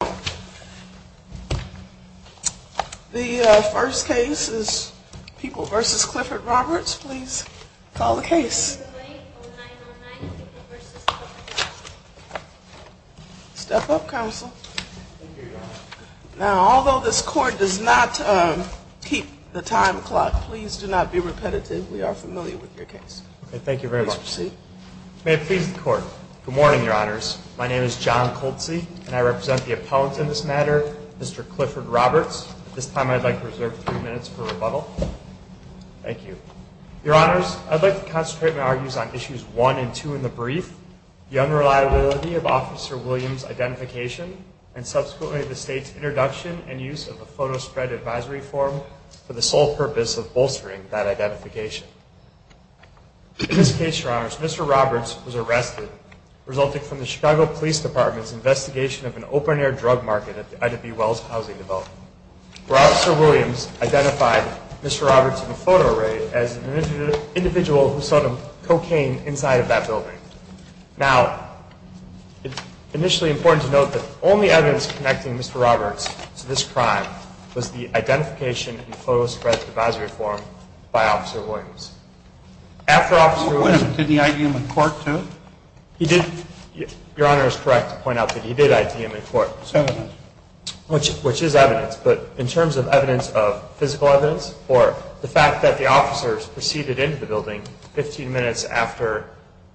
The first case is People v. Clifford Roberts. Please call the case. Step up, counsel. Now, although this court does not keep the time clock, please do not be repetitive. We are familiar with your case. Thank you very much. Please proceed. May it please the Court. Good morning, Your Honors. My name is John Coltsy, and I represent the appellant in this matter, Mr. Clifford Roberts. At this time, I'd like to reserve three minutes for rebuttal. Thank you. Your Honors, I'd like to concentrate my arguments on issues 1 and 2 in the brief, the unreliability of Officer Williams' identification, and subsequently the State's introduction and use of the Photo Spread Advisory Form for the sole purpose of bolstering that identification. In this case, Your Honors, Mr. Roberts was arrested, resulting from the Chicago Police Department's investigation of an open-air drug market at the Ida B. Wells Housing Development, where Officer Williams identified Mr. Roberts in a photo raid as an individual who sold him cocaine inside of that building. Now, it's initially important to note that the only evidence connecting Mr. Roberts to this crime was the identification in the Photo Spread Advisory Form by Officer Williams. Did he ID him in court, too? He did. Your Honor is correct to point out that he did ID him in court, which is evidence. But in terms of evidence of physical evidence, or the fact that the officers proceeded into the building 15 minutes after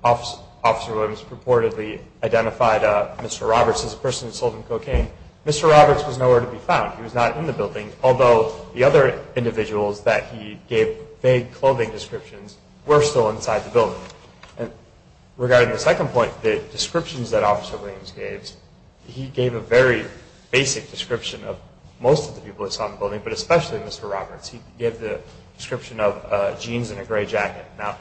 Officer Williams purportedly identified Mr. Roberts as a person who sold him cocaine, Mr. Roberts was nowhere to be found. He was not in the building, although the other individuals that he gave vague clothing descriptions were still inside the building. And regarding the second point, the descriptions that Officer Williams gave, he gave a very basic description of most of the people that saw him in the building, but especially Mr. Roberts. He gave the description of jeans and a gray jacket. Now,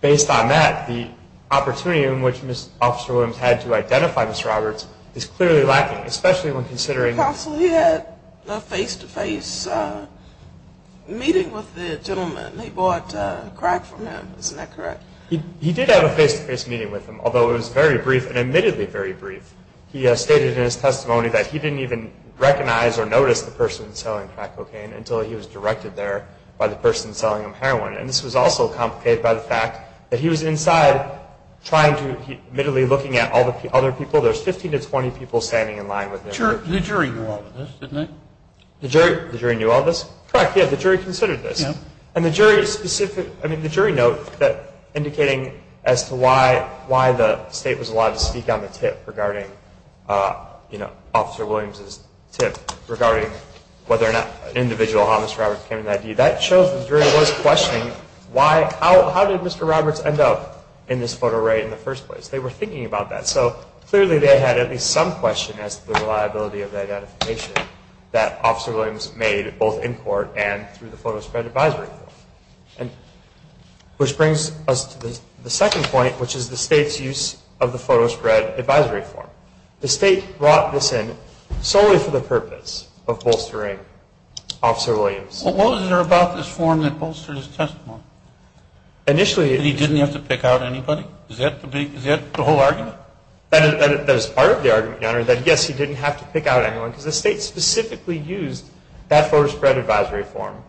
based on that, the opportunity in which Officer Williams had to identify Mr. Roberts is clearly lacking, especially when considering... Counsel, he had a face-to-face meeting with the gentleman. They bought crack from him. Isn't that correct? He did have a face-to-face meeting with him, although it was very brief, and admittedly very brief. He stated in his testimony that he didn't even recognize or notice the person selling crack cocaine until he was directed there by the person selling him heroin. And this was also complicated by the fact that he was inside trying to, admittedly looking at all the other people. There's 15 to 20 people standing in line with him. The jury knew all of this, didn't they? The jury knew all of this? Correct. Yeah, the jury considered this. And the jury specific... I mean, the jury note indicating as to why the state was allowed to speak on the tip regarding Officer Williams' tip regarding whether or not an individual, how Mr. Roberts came to that view, that shows the jury was questioning how did Mr. Roberts end up in this photo array in the first place. They were thinking about that. So clearly they had at least some question as to the reliability of the identification that Officer Williams made both in court and through the photo spread advisory form. Which brings us to the second point, which is the state's use of the photo spread advisory form. The state brought this in solely for the purpose of bolstering Officer Williams. What was there about this form that bolstered his testimony? Initially... That he didn't have to pick out anybody? Is that the whole argument? That is part of the argument, Your Honor, that yes, he didn't have to pick out anyone, because the state specifically used that photo spread advisory form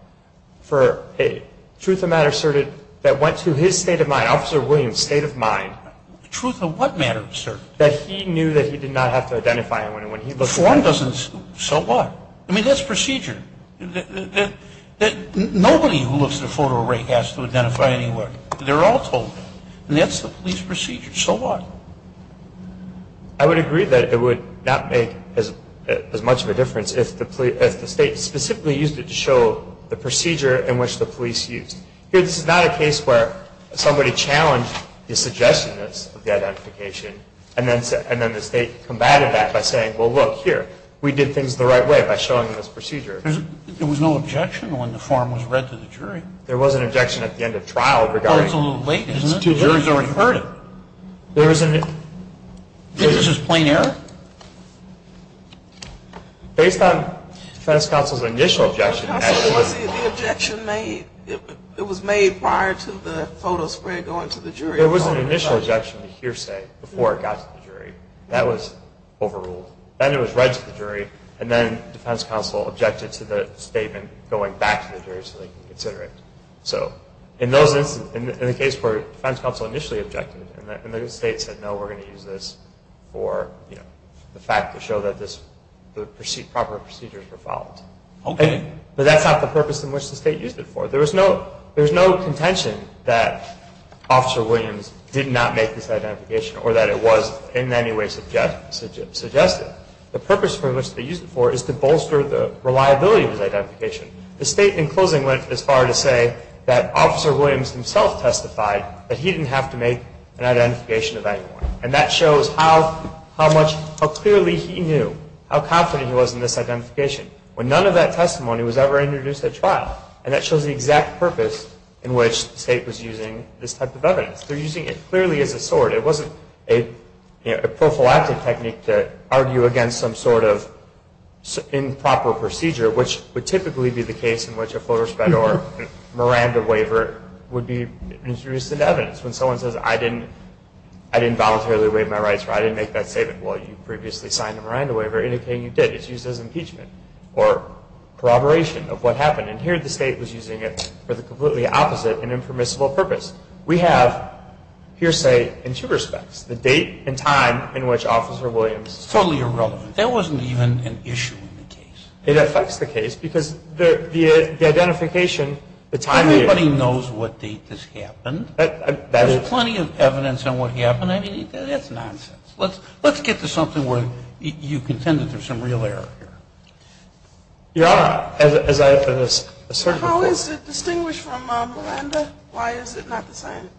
for a truth of matter asserted that went to his state of mind, Officer Williams' state of mind. Truth of what matter asserted? That he knew that he did not have to identify anyone when he looked at it. So what? I mean, that's procedure. That nobody who looks at a photo array has to identify anyone. They're all told that. And that's the police procedure. So what? I would agree that it would not make as much of a difference if the state specifically used it to show the procedure in which the police used. Here, this is not a case where somebody challenged the suggestiveness of the identification, and then the state combated that by saying, well, look, here, we did things the right way by showing this procedure. There was no objection when the form was read to the jury? There was an objection at the end of trial regarding... Well, it's a little late, isn't it? The jury's already heard it. There was an... Is this just plain error? Based on the defense counsel's initial objection... Counsel, was the objection made, it was made prior to the photo spread going to the jury? There was an initial objection to hearsay before it got to the jury. That was overruled. Then it was read to the jury, and then the defense counsel objected to the statement going back to the jury so they could consider it. So in the case where the defense counsel initially objected, and the state said, no, we're going to use this for the fact to show that the proper procedures were followed. But that's not the purpose in which the state used it for. There was no contention that Officer Williams did not make this identification or that it was in any way suggested. The purpose for which they used it for is to bolster the reliability of his identification. The state, in closing, went as far as to say that Officer Williams himself testified that he didn't have to make an identification of anyone. And that shows how clearly he knew, how confident he was in this identification, when none of that testimony was ever introduced at trial. And that shows the exact purpose in which the state was using this type of evidence. They're using it clearly as a sword. It wasn't a prophylactic technique to argue against some sort of improper procedure, which would typically be the case in which a Flores-Fedor Miranda waiver would be introduced into evidence. When someone says, I didn't voluntarily waive my rights or I didn't make that statement, well, you previously signed a Miranda waiver indicating you did. The state is used as impeachment or corroboration of what happened. And here the state was using it for the completely opposite and impermissible purpose. We have here, say, in two respects, the date and time in which Officer Williams Totally irrelevant. That wasn't even an issue in the case. It affects the case because the identification, the time... Everybody knows what date this happened. There's plenty of evidence on what happened. I mean, that's nonsense. Let's get to something where you contend that there's some real error here. Your Honor, as I've asserted before... How is it distinguished from Miranda? Why is it not the same?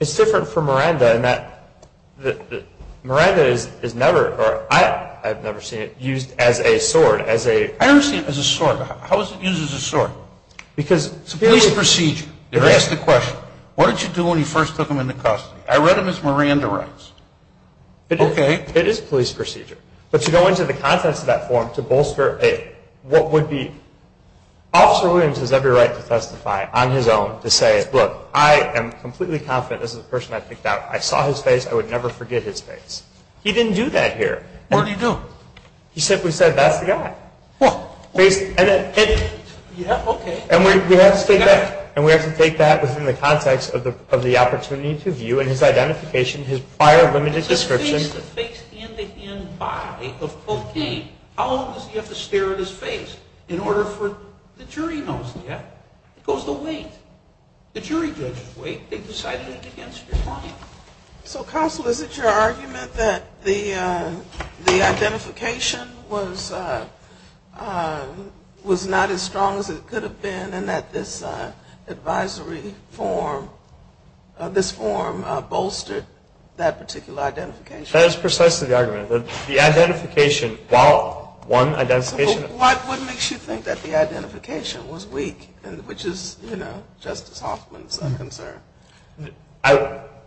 It's different from Miranda in that Miranda is never... I've never seen it used as a sword. I've never seen it as a sword. How is it used as a sword? It's a police procedure. They're asked the question, what did you do when you first took him into custody? I read them as Miranda rights. It is a police procedure. But to go into the context of that form to bolster Officer Williams has every right to testify on his own to say, look, I am completely confident this is the person I picked out. I saw his face. I would never forget his face. He didn't do that here. What did he do? He simply said, that's the guy. And we have to take that within the context of the opportunity to view in his identification his prior limited description. How long does he have to stare at his face in order for the jury to notice that? It goes to wait. The jury judges wait. They decide against your client. So Counsel, is it your argument that the identification was not as strong as it could have been and that this advisory form bolstered that particular identification? That is precisely the argument. The identification, while one identification... What makes you think that the identification was weak, which is Justice Hoffman's concern?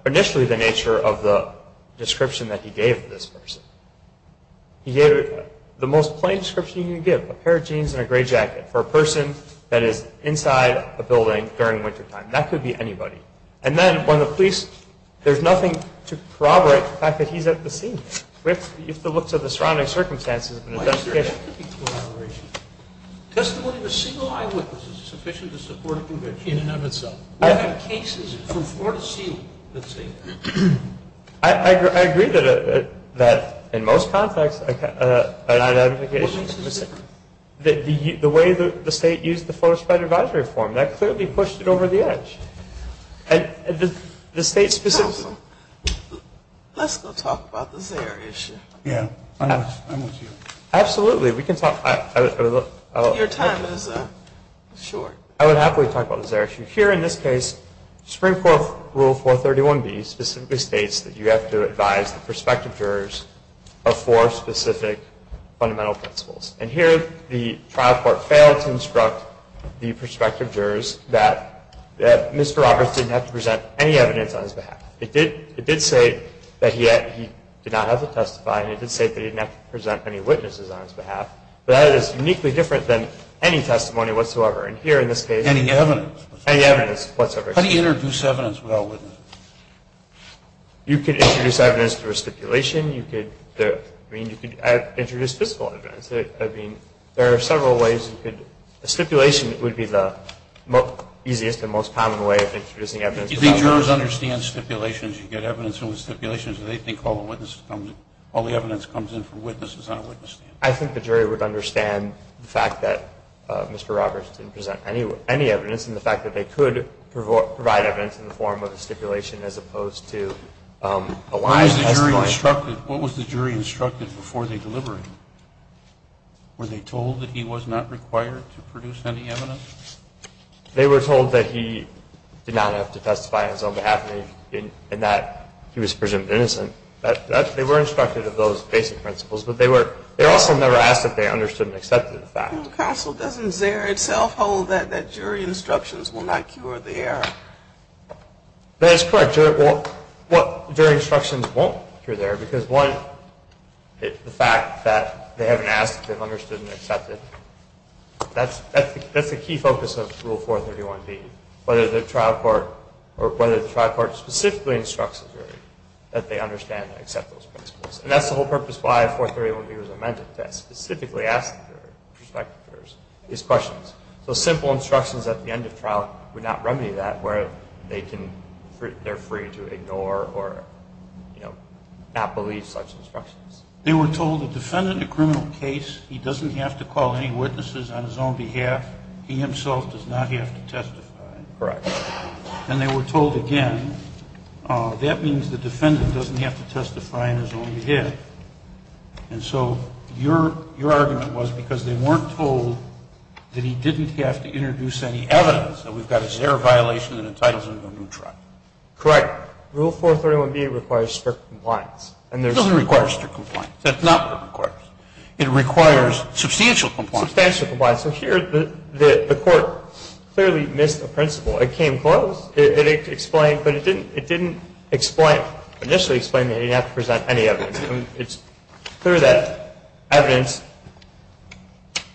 Initially the nature of the description that he gave this person. He gave the most plain description you can give. A pair of jeans and a gray jacket. For a person that is inside a building during wintertime. That could be anybody. And then when the police, there's nothing to corroborate the fact that he's at the scene with the looks of the surrounding circumstances and identification. Testimony of a single eyewitness is sufficient to support a conviction in and of itself. We have cases from Florida Sealing. I agree that in most contexts an identification... The way the state used the Florida Spite Advisory form, that clearly pushed it over the edge. And the state specifically... Counsel, let's go talk about the Zaire issue. Absolutely, we can talk. I would happily talk about the Zaire issue. Here in this case, Supreme Court Rule 431B specifically states that you have to advise the jury on specific fundamental principles. And here the trial court failed to instruct the prospective jurors that Mr. Roberts didn't have to present any evidence on his behalf. It did say that he did not have to testify. And it did say that he didn't have to present any witnesses on his behalf. But that is uniquely different than any testimony whatsoever. How do you introduce evidence without witnesses? You could introduce evidence through a stipulation. You could introduce physical evidence. There are several ways. A stipulation would be the easiest and most common way of introducing evidence. Do you think jurors understand stipulations? I think the jury would understand the fact that Mr. Roberts didn't present any evidence and the fact that they could provide evidence in the form of a stipulation as opposed to a live testimony. What was the jury instructed before they delivered him? Were they told that he was not required to produce any evidence? They were told that he did not have to testify on his own behalf and that he was presumed innocent. They were instructed of those basic principles. But they were also never asked if they understood and accepted the fact. Counsel, doesn't Zare itself hold that jury instructions will not cure the error? That is correct. Jury instructions won't cure the error because one, the fact that they haven't asked if they've understood and accepted. That's the key focus of Rule 431B. Whether the trial court specifically instructs the jury that they understand and accept those instructions. So simple instructions at the end of trial would not remedy that where they're free to ignore or not believe such instructions. They were told the defendant in a criminal case, he doesn't have to call any witnesses on his own behalf. He himself does not have to testify. And they were told again, that means the defendant doesn't have to testify on his own behalf. And so your argument was because they weren't told that he didn't have to introduce any evidence that we've got a Zare violation that entitles him to a new trial. Correct. Rule 431B requires strict compliance. It doesn't require strict compliance. That's not what it requires. It requires substantial compliance. Substantial compliance. So here the court clearly missed a principle. It came close. It explained, but it didn't initially explain that he didn't have to present any evidence. It's clear that evidence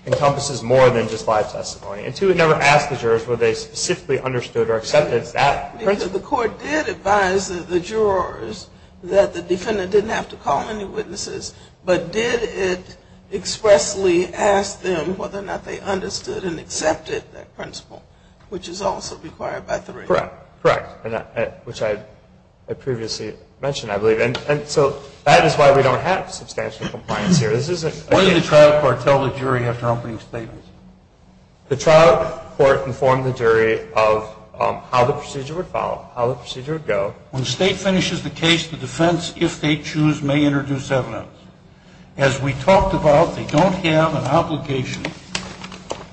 encompasses more than just live testimony. And two, it never asked the jurors whether they specifically understood or accepted that principle. The court did advise the jurors that the defendant didn't have to call any witnesses, but did it expressly ask them whether or not they understood and accepted that principle. Which is also required by 3A. Correct. Which I previously mentioned, I believe. And so that is why we don't have substantial compliance here. Why did the trial court tell the jury after opening statements? The trial court informed the jury of how the procedure would follow, how the procedure would go. When the state finishes the case, the defense, if they choose, may introduce evidence. As we talked about, they don't have an obligation.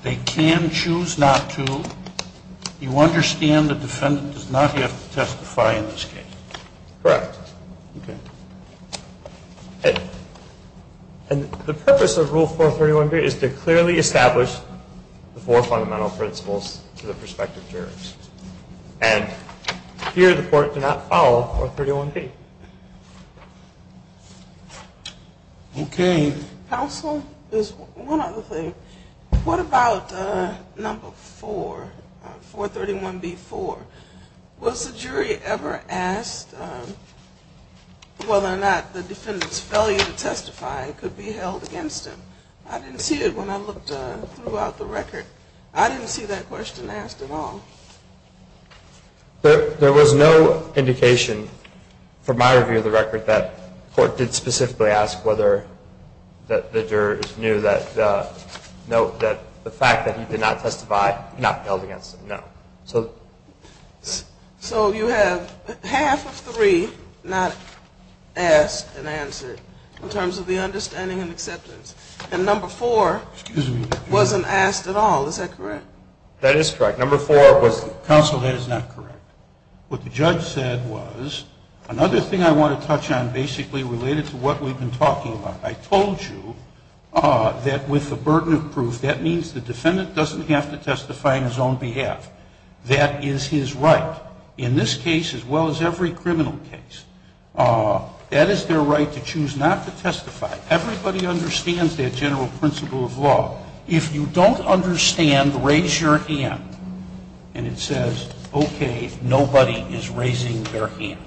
They can choose not to. You understand the defendant does not yet have to testify in this case. Correct. And the purpose of Rule 431B is to clearly establish the four fundamental principles to the prospective jurors. And here the court did not follow 431B. Okay. Counsel, there's one other thing. What about number 4, 431B4? Was the jury ever asked whether or not the defendant's failure to testify could be held against him? I didn't see it when I looked throughout the record. I didn't see that question asked at all. There was no indication from my review of the record that the court did specifically ask whether the jurors knew that the fact that he did not testify could not be held against him. No. So you have half of 3 not asked and answered in terms of the understanding and acceptance. And number 4 wasn't asked at all. Is that correct? That is correct. Counsel, that is not correct. What the judge said was, another thing I want to touch on basically related to what we've been talking about. I told you that with the burden of proof, that means the defendant doesn't have to testify on his own behalf. That is his right. In this case as well as every criminal case, that is their right to choose not to testify. Everybody understands that general principle of law. If you don't understand, raise your hand. And it says, okay, nobody is raising their hand.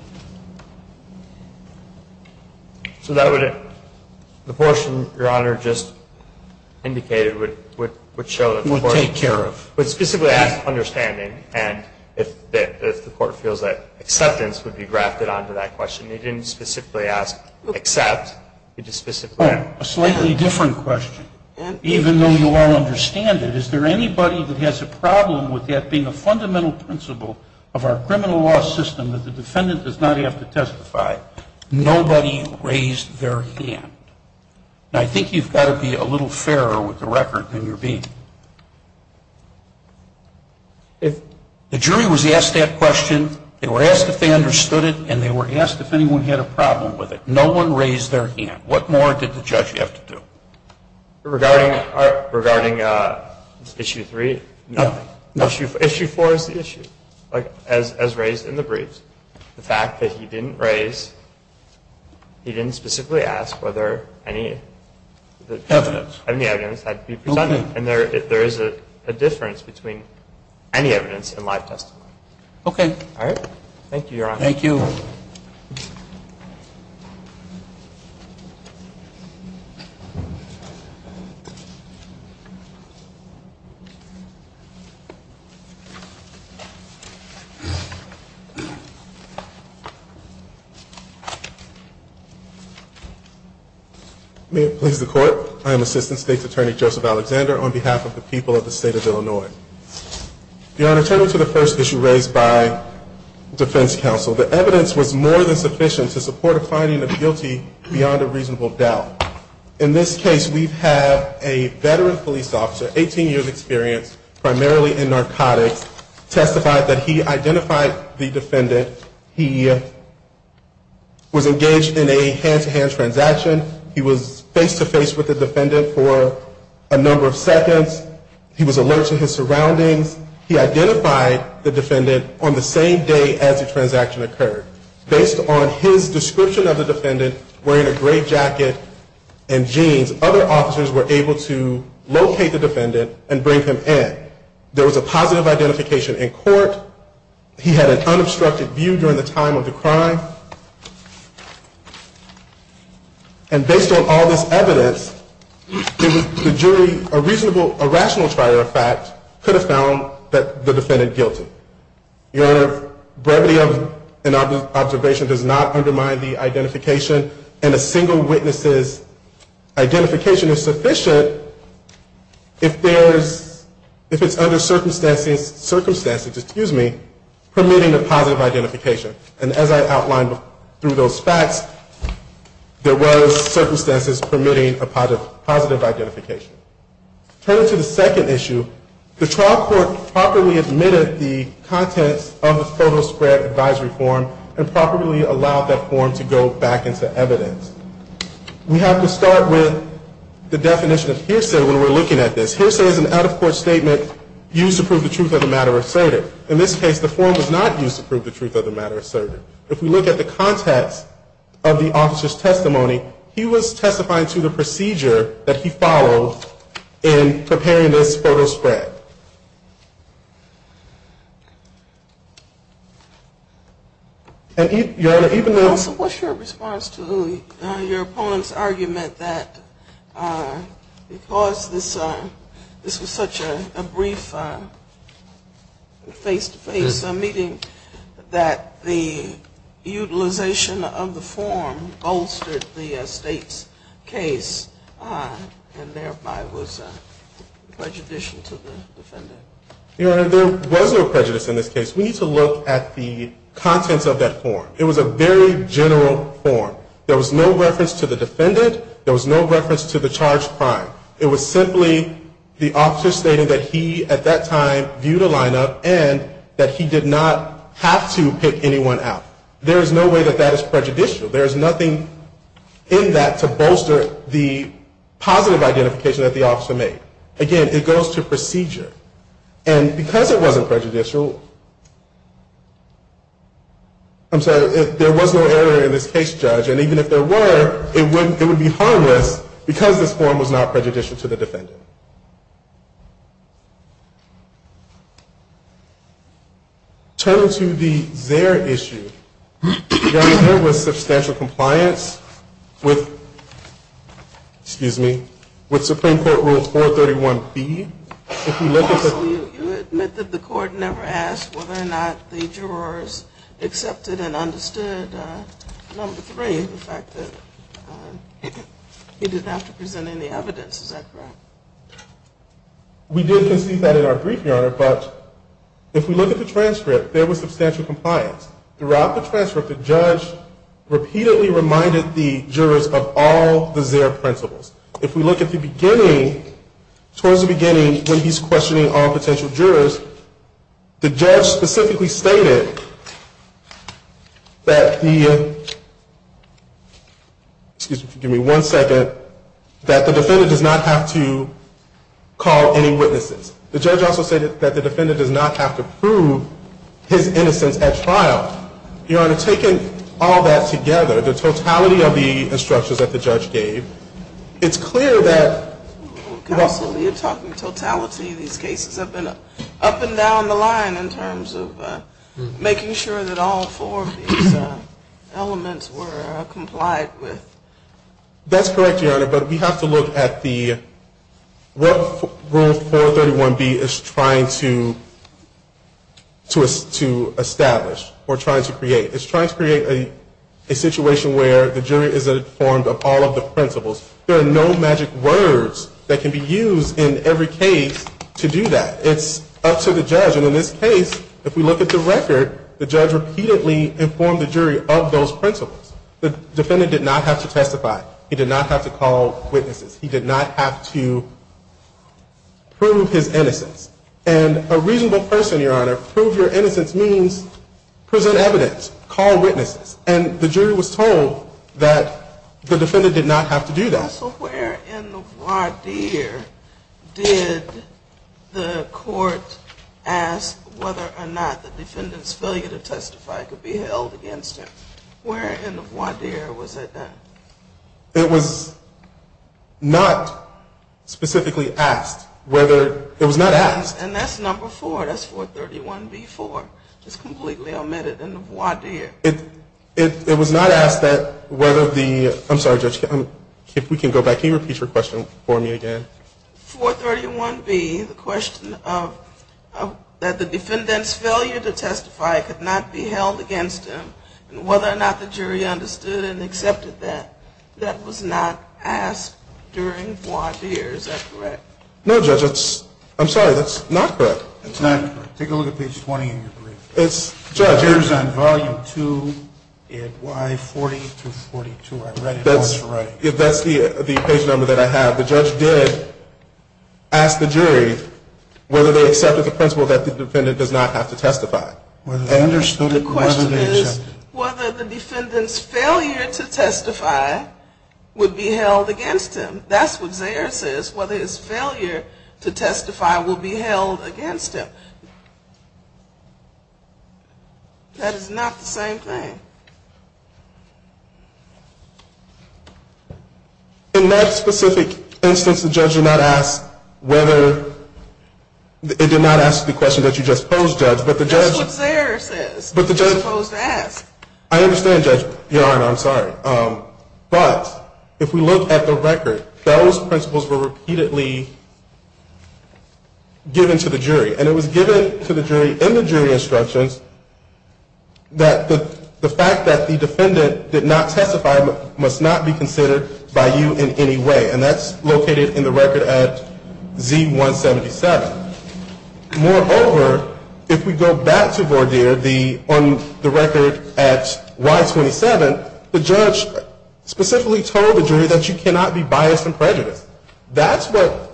So that would the portion your honor just indicated would specifically ask understanding and if the court feels that acceptance would be grafted onto that question. They didn't specifically ask accept. A slightly different question. Even though you all understand it is there anybody that has a problem with that being a fundamental principle of our criminal law system that the defendant does not have to testify? Nobody raised their hand. And I think you've got to be a little fairer with the record than you're being. If the jury was asked that question they were asked if they understood it and they were asked if anyone had a problem with it. No one raised their hand. What more did the judge have to do? Regarding issue 3 issue 4 is the issue as raised in the briefs. The fact that he didn't raise he didn't specifically ask whether any evidence had to be presented. And there is a difference between any evidence and live testimony. Thank you. May it please the court I am Assistant State's Attorney Joseph Alexander on behalf of the people of the state of Illinois. Your honor turning to the first issue raised by defense counsel the evidence was more than sufficient to support a finding of guilty In this case we have a veteran police officer 18 years experience primarily in narcotics testified that he identified the defendant he was engaged in a hand-to-hand transaction he was face-to-face with the defendant for a number of seconds he was alert to his surroundings he identified the defendant on the same day as the transaction occurred based on his description of the defendant wearing a gray jacket and jeans other officers were able to locate the defendant and bring him in. There was a positive identification in court he had an unobstructed view during the time of the crime and based on all this evidence the jury a reasonable, a rational trial could have found the defendant guilty. Your honor, brevity of an observation does not undermine the identification and a single witness's identification is sufficient if there's if it's under circumstances permitting a positive identification and as I outlined through those facts there was circumstances permitting a positive identification. Turning to the second issue the trial court properly admitted the contents of the photo spread advisory form and properly allowed that form to go back into evidence. We have to start with the definition of hearsay when we're looking at this. Hearsay is an out-of-court statement used to prove the truth of the matter asserted. In this case the form was not used to prove the truth of the matter asserted. If we look at the context of the officer's testimony he was testifying to the procedure that he followed in preparing this photo spread. Your honor, even though Also, what's your response to your opponent's argument that because this was such a brief face-to-face meeting that the utilization of the form bolstered the state's case and thereby was prejudicial to the defendant? Your honor, there was no prejudice in this case. We need to look at the contents of that form. It was a very general form. There was no reference to the defendant. There was no reference to the charged crime. It was simply the officer stating that he at that time viewed a lineup and that he did not have to pick anyone out. There is no way that that is prejudicial. There is nothing in that to bolster the positive identification that the officer made. Again, it goes to procedure. And because it wasn't prejudicial, I'm sorry, there was no error in this case, Judge. And even if there were, it would be harmless because this form was not prejudicial to the defendant. Turning to the Zare issue, your honor, there was with, excuse me, with Supreme Court Rule 431B Also, you admit that the court never asked whether or not the jurors accepted and understood number three, the fact that he didn't have to present any evidence. Is that correct? We did concede that in our brief, your honor, but if we look at the transcript, there was substantial compliance. Throughout the transcript, the judge repeatedly reminded the jurors of all the Zare principles. If we look at the beginning, towards the beginning, when he's questioning all potential jurors, the judge specifically stated that the, excuse me, one second, that the defendant does not have to call any witnesses. The judge also said that the defendant does not have to prove his innocence at trial. Your honor, taking all that together, the totality of the instructions that the judge gave, it's clear that Counsel, you're talking totality. These cases have been up and down the line in terms of making sure that all four of these elements were complied with. That's correct, your honor, but we have to look at the, what Rule 431B is trying to create. It's trying to create a situation where the jury is informed of all of the principles. There are no magic words that can be used in every case to do that. It's up to the judge, and in this case, if we look at the record, the judge repeatedly informed the jury of those principles. The defendant did not have to testify. He did not have to call witnesses. He did not have to prove his innocence. And a reasonable person, your honor, prove your innocence means present evidence, call witnesses, and the jury was told that the defendant did not have to do that. Counsel, where in the voir dire did the court ask whether or not the defendant's failure to testify could be held against him? Where in the voir dire was that done? It was not specifically asked. It was not asked. And that's number 4, that's 431B4. It's completely omitted in the voir dire. It was not asked that whether the, I'm sorry, Judge, if we can go back, can you repeat your question for me again? 431B, the question of that the defendant's failure to testify could not be held against him, and whether or not the jury understood and accepted that, that was not asked during voir dire, is that correct? No, Judge, that's, I'm sorry, that's not correct. It's not correct. Take a look at page 20 in your brief. It's, Judge, it was on volume 2 at Y40-42. That's the page number that I have. The judge did ask the jury whether they accepted the principle that the defendant does not have to testify. The question is whether the defendant's failure to testify would be held against him. That's what Zayers says, whether his failure to testify will be held against him. That is not the same thing. In that specific instance, the judge did not ask whether, it did not ask the question that you just posed, Judge, but the judge, That's what Zayers says, you're supposed to ask. I understand, Judge. Your Honor, I'm sorry, but if we look at the record, those principles were repeatedly given to the jury. And it was given to the jury in the jury instructions that the fact that the defendant did not testify must not be considered by you in any way. And that's located in the record at Z177. Moreover, if we go back to voir dire, on the record at Y27, the judge specifically told the jury that you cannot be biased and prejudiced. That's what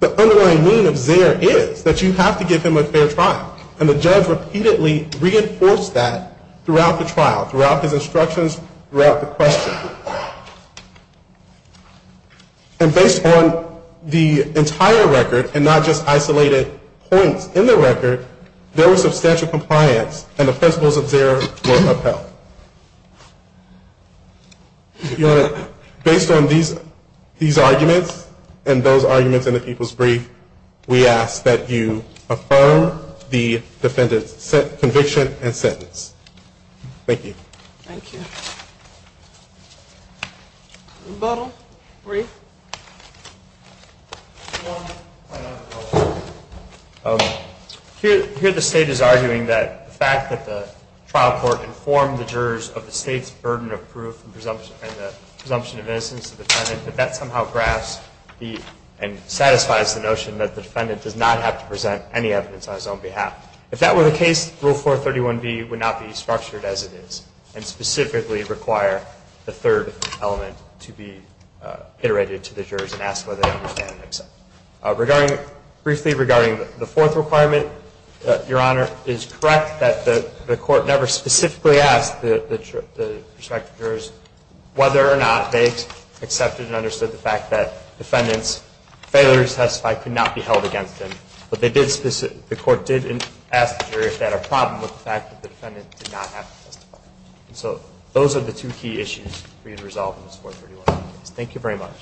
the underlying meaning of Zayers is, that you have to give him a fair trial. And the judge repeatedly reinforced that throughout the trial, throughout his instructions, throughout the question. And based on the entire record and not just isolated points in the record, there was substantial compliance and the principles of Zayers were upheld. Your Honor, based on these arguments and those arguments in the people's brief, we ask that you affirm the defendant's conviction and sentence. Thank you. Thank you. Rebuttal? Brief? Here the State is arguing that the fact that the trial court informed the jurors of the State's burden of proof and the presumption of innocence of the defendant, that that somehow grasps and satisfies the notion that the defendant does not have to present any evidence on his own behalf. If that were the case, Rule 431B would not be structured as it is and specifically require the third element to be iterated to the jurors and asked whether they understand it. Briefly regarding the fourth requirement, your Honor, it is correct that the court never specifically asked the prospective jurors whether or not they accepted and understood the fact that the defendant's failure to testify could not be held against them, but the court did ask the jurors that are problem with the fact that the defendant did not have to testify. So those are the two key issues for you to resolve in this 431 case. Thank you very much.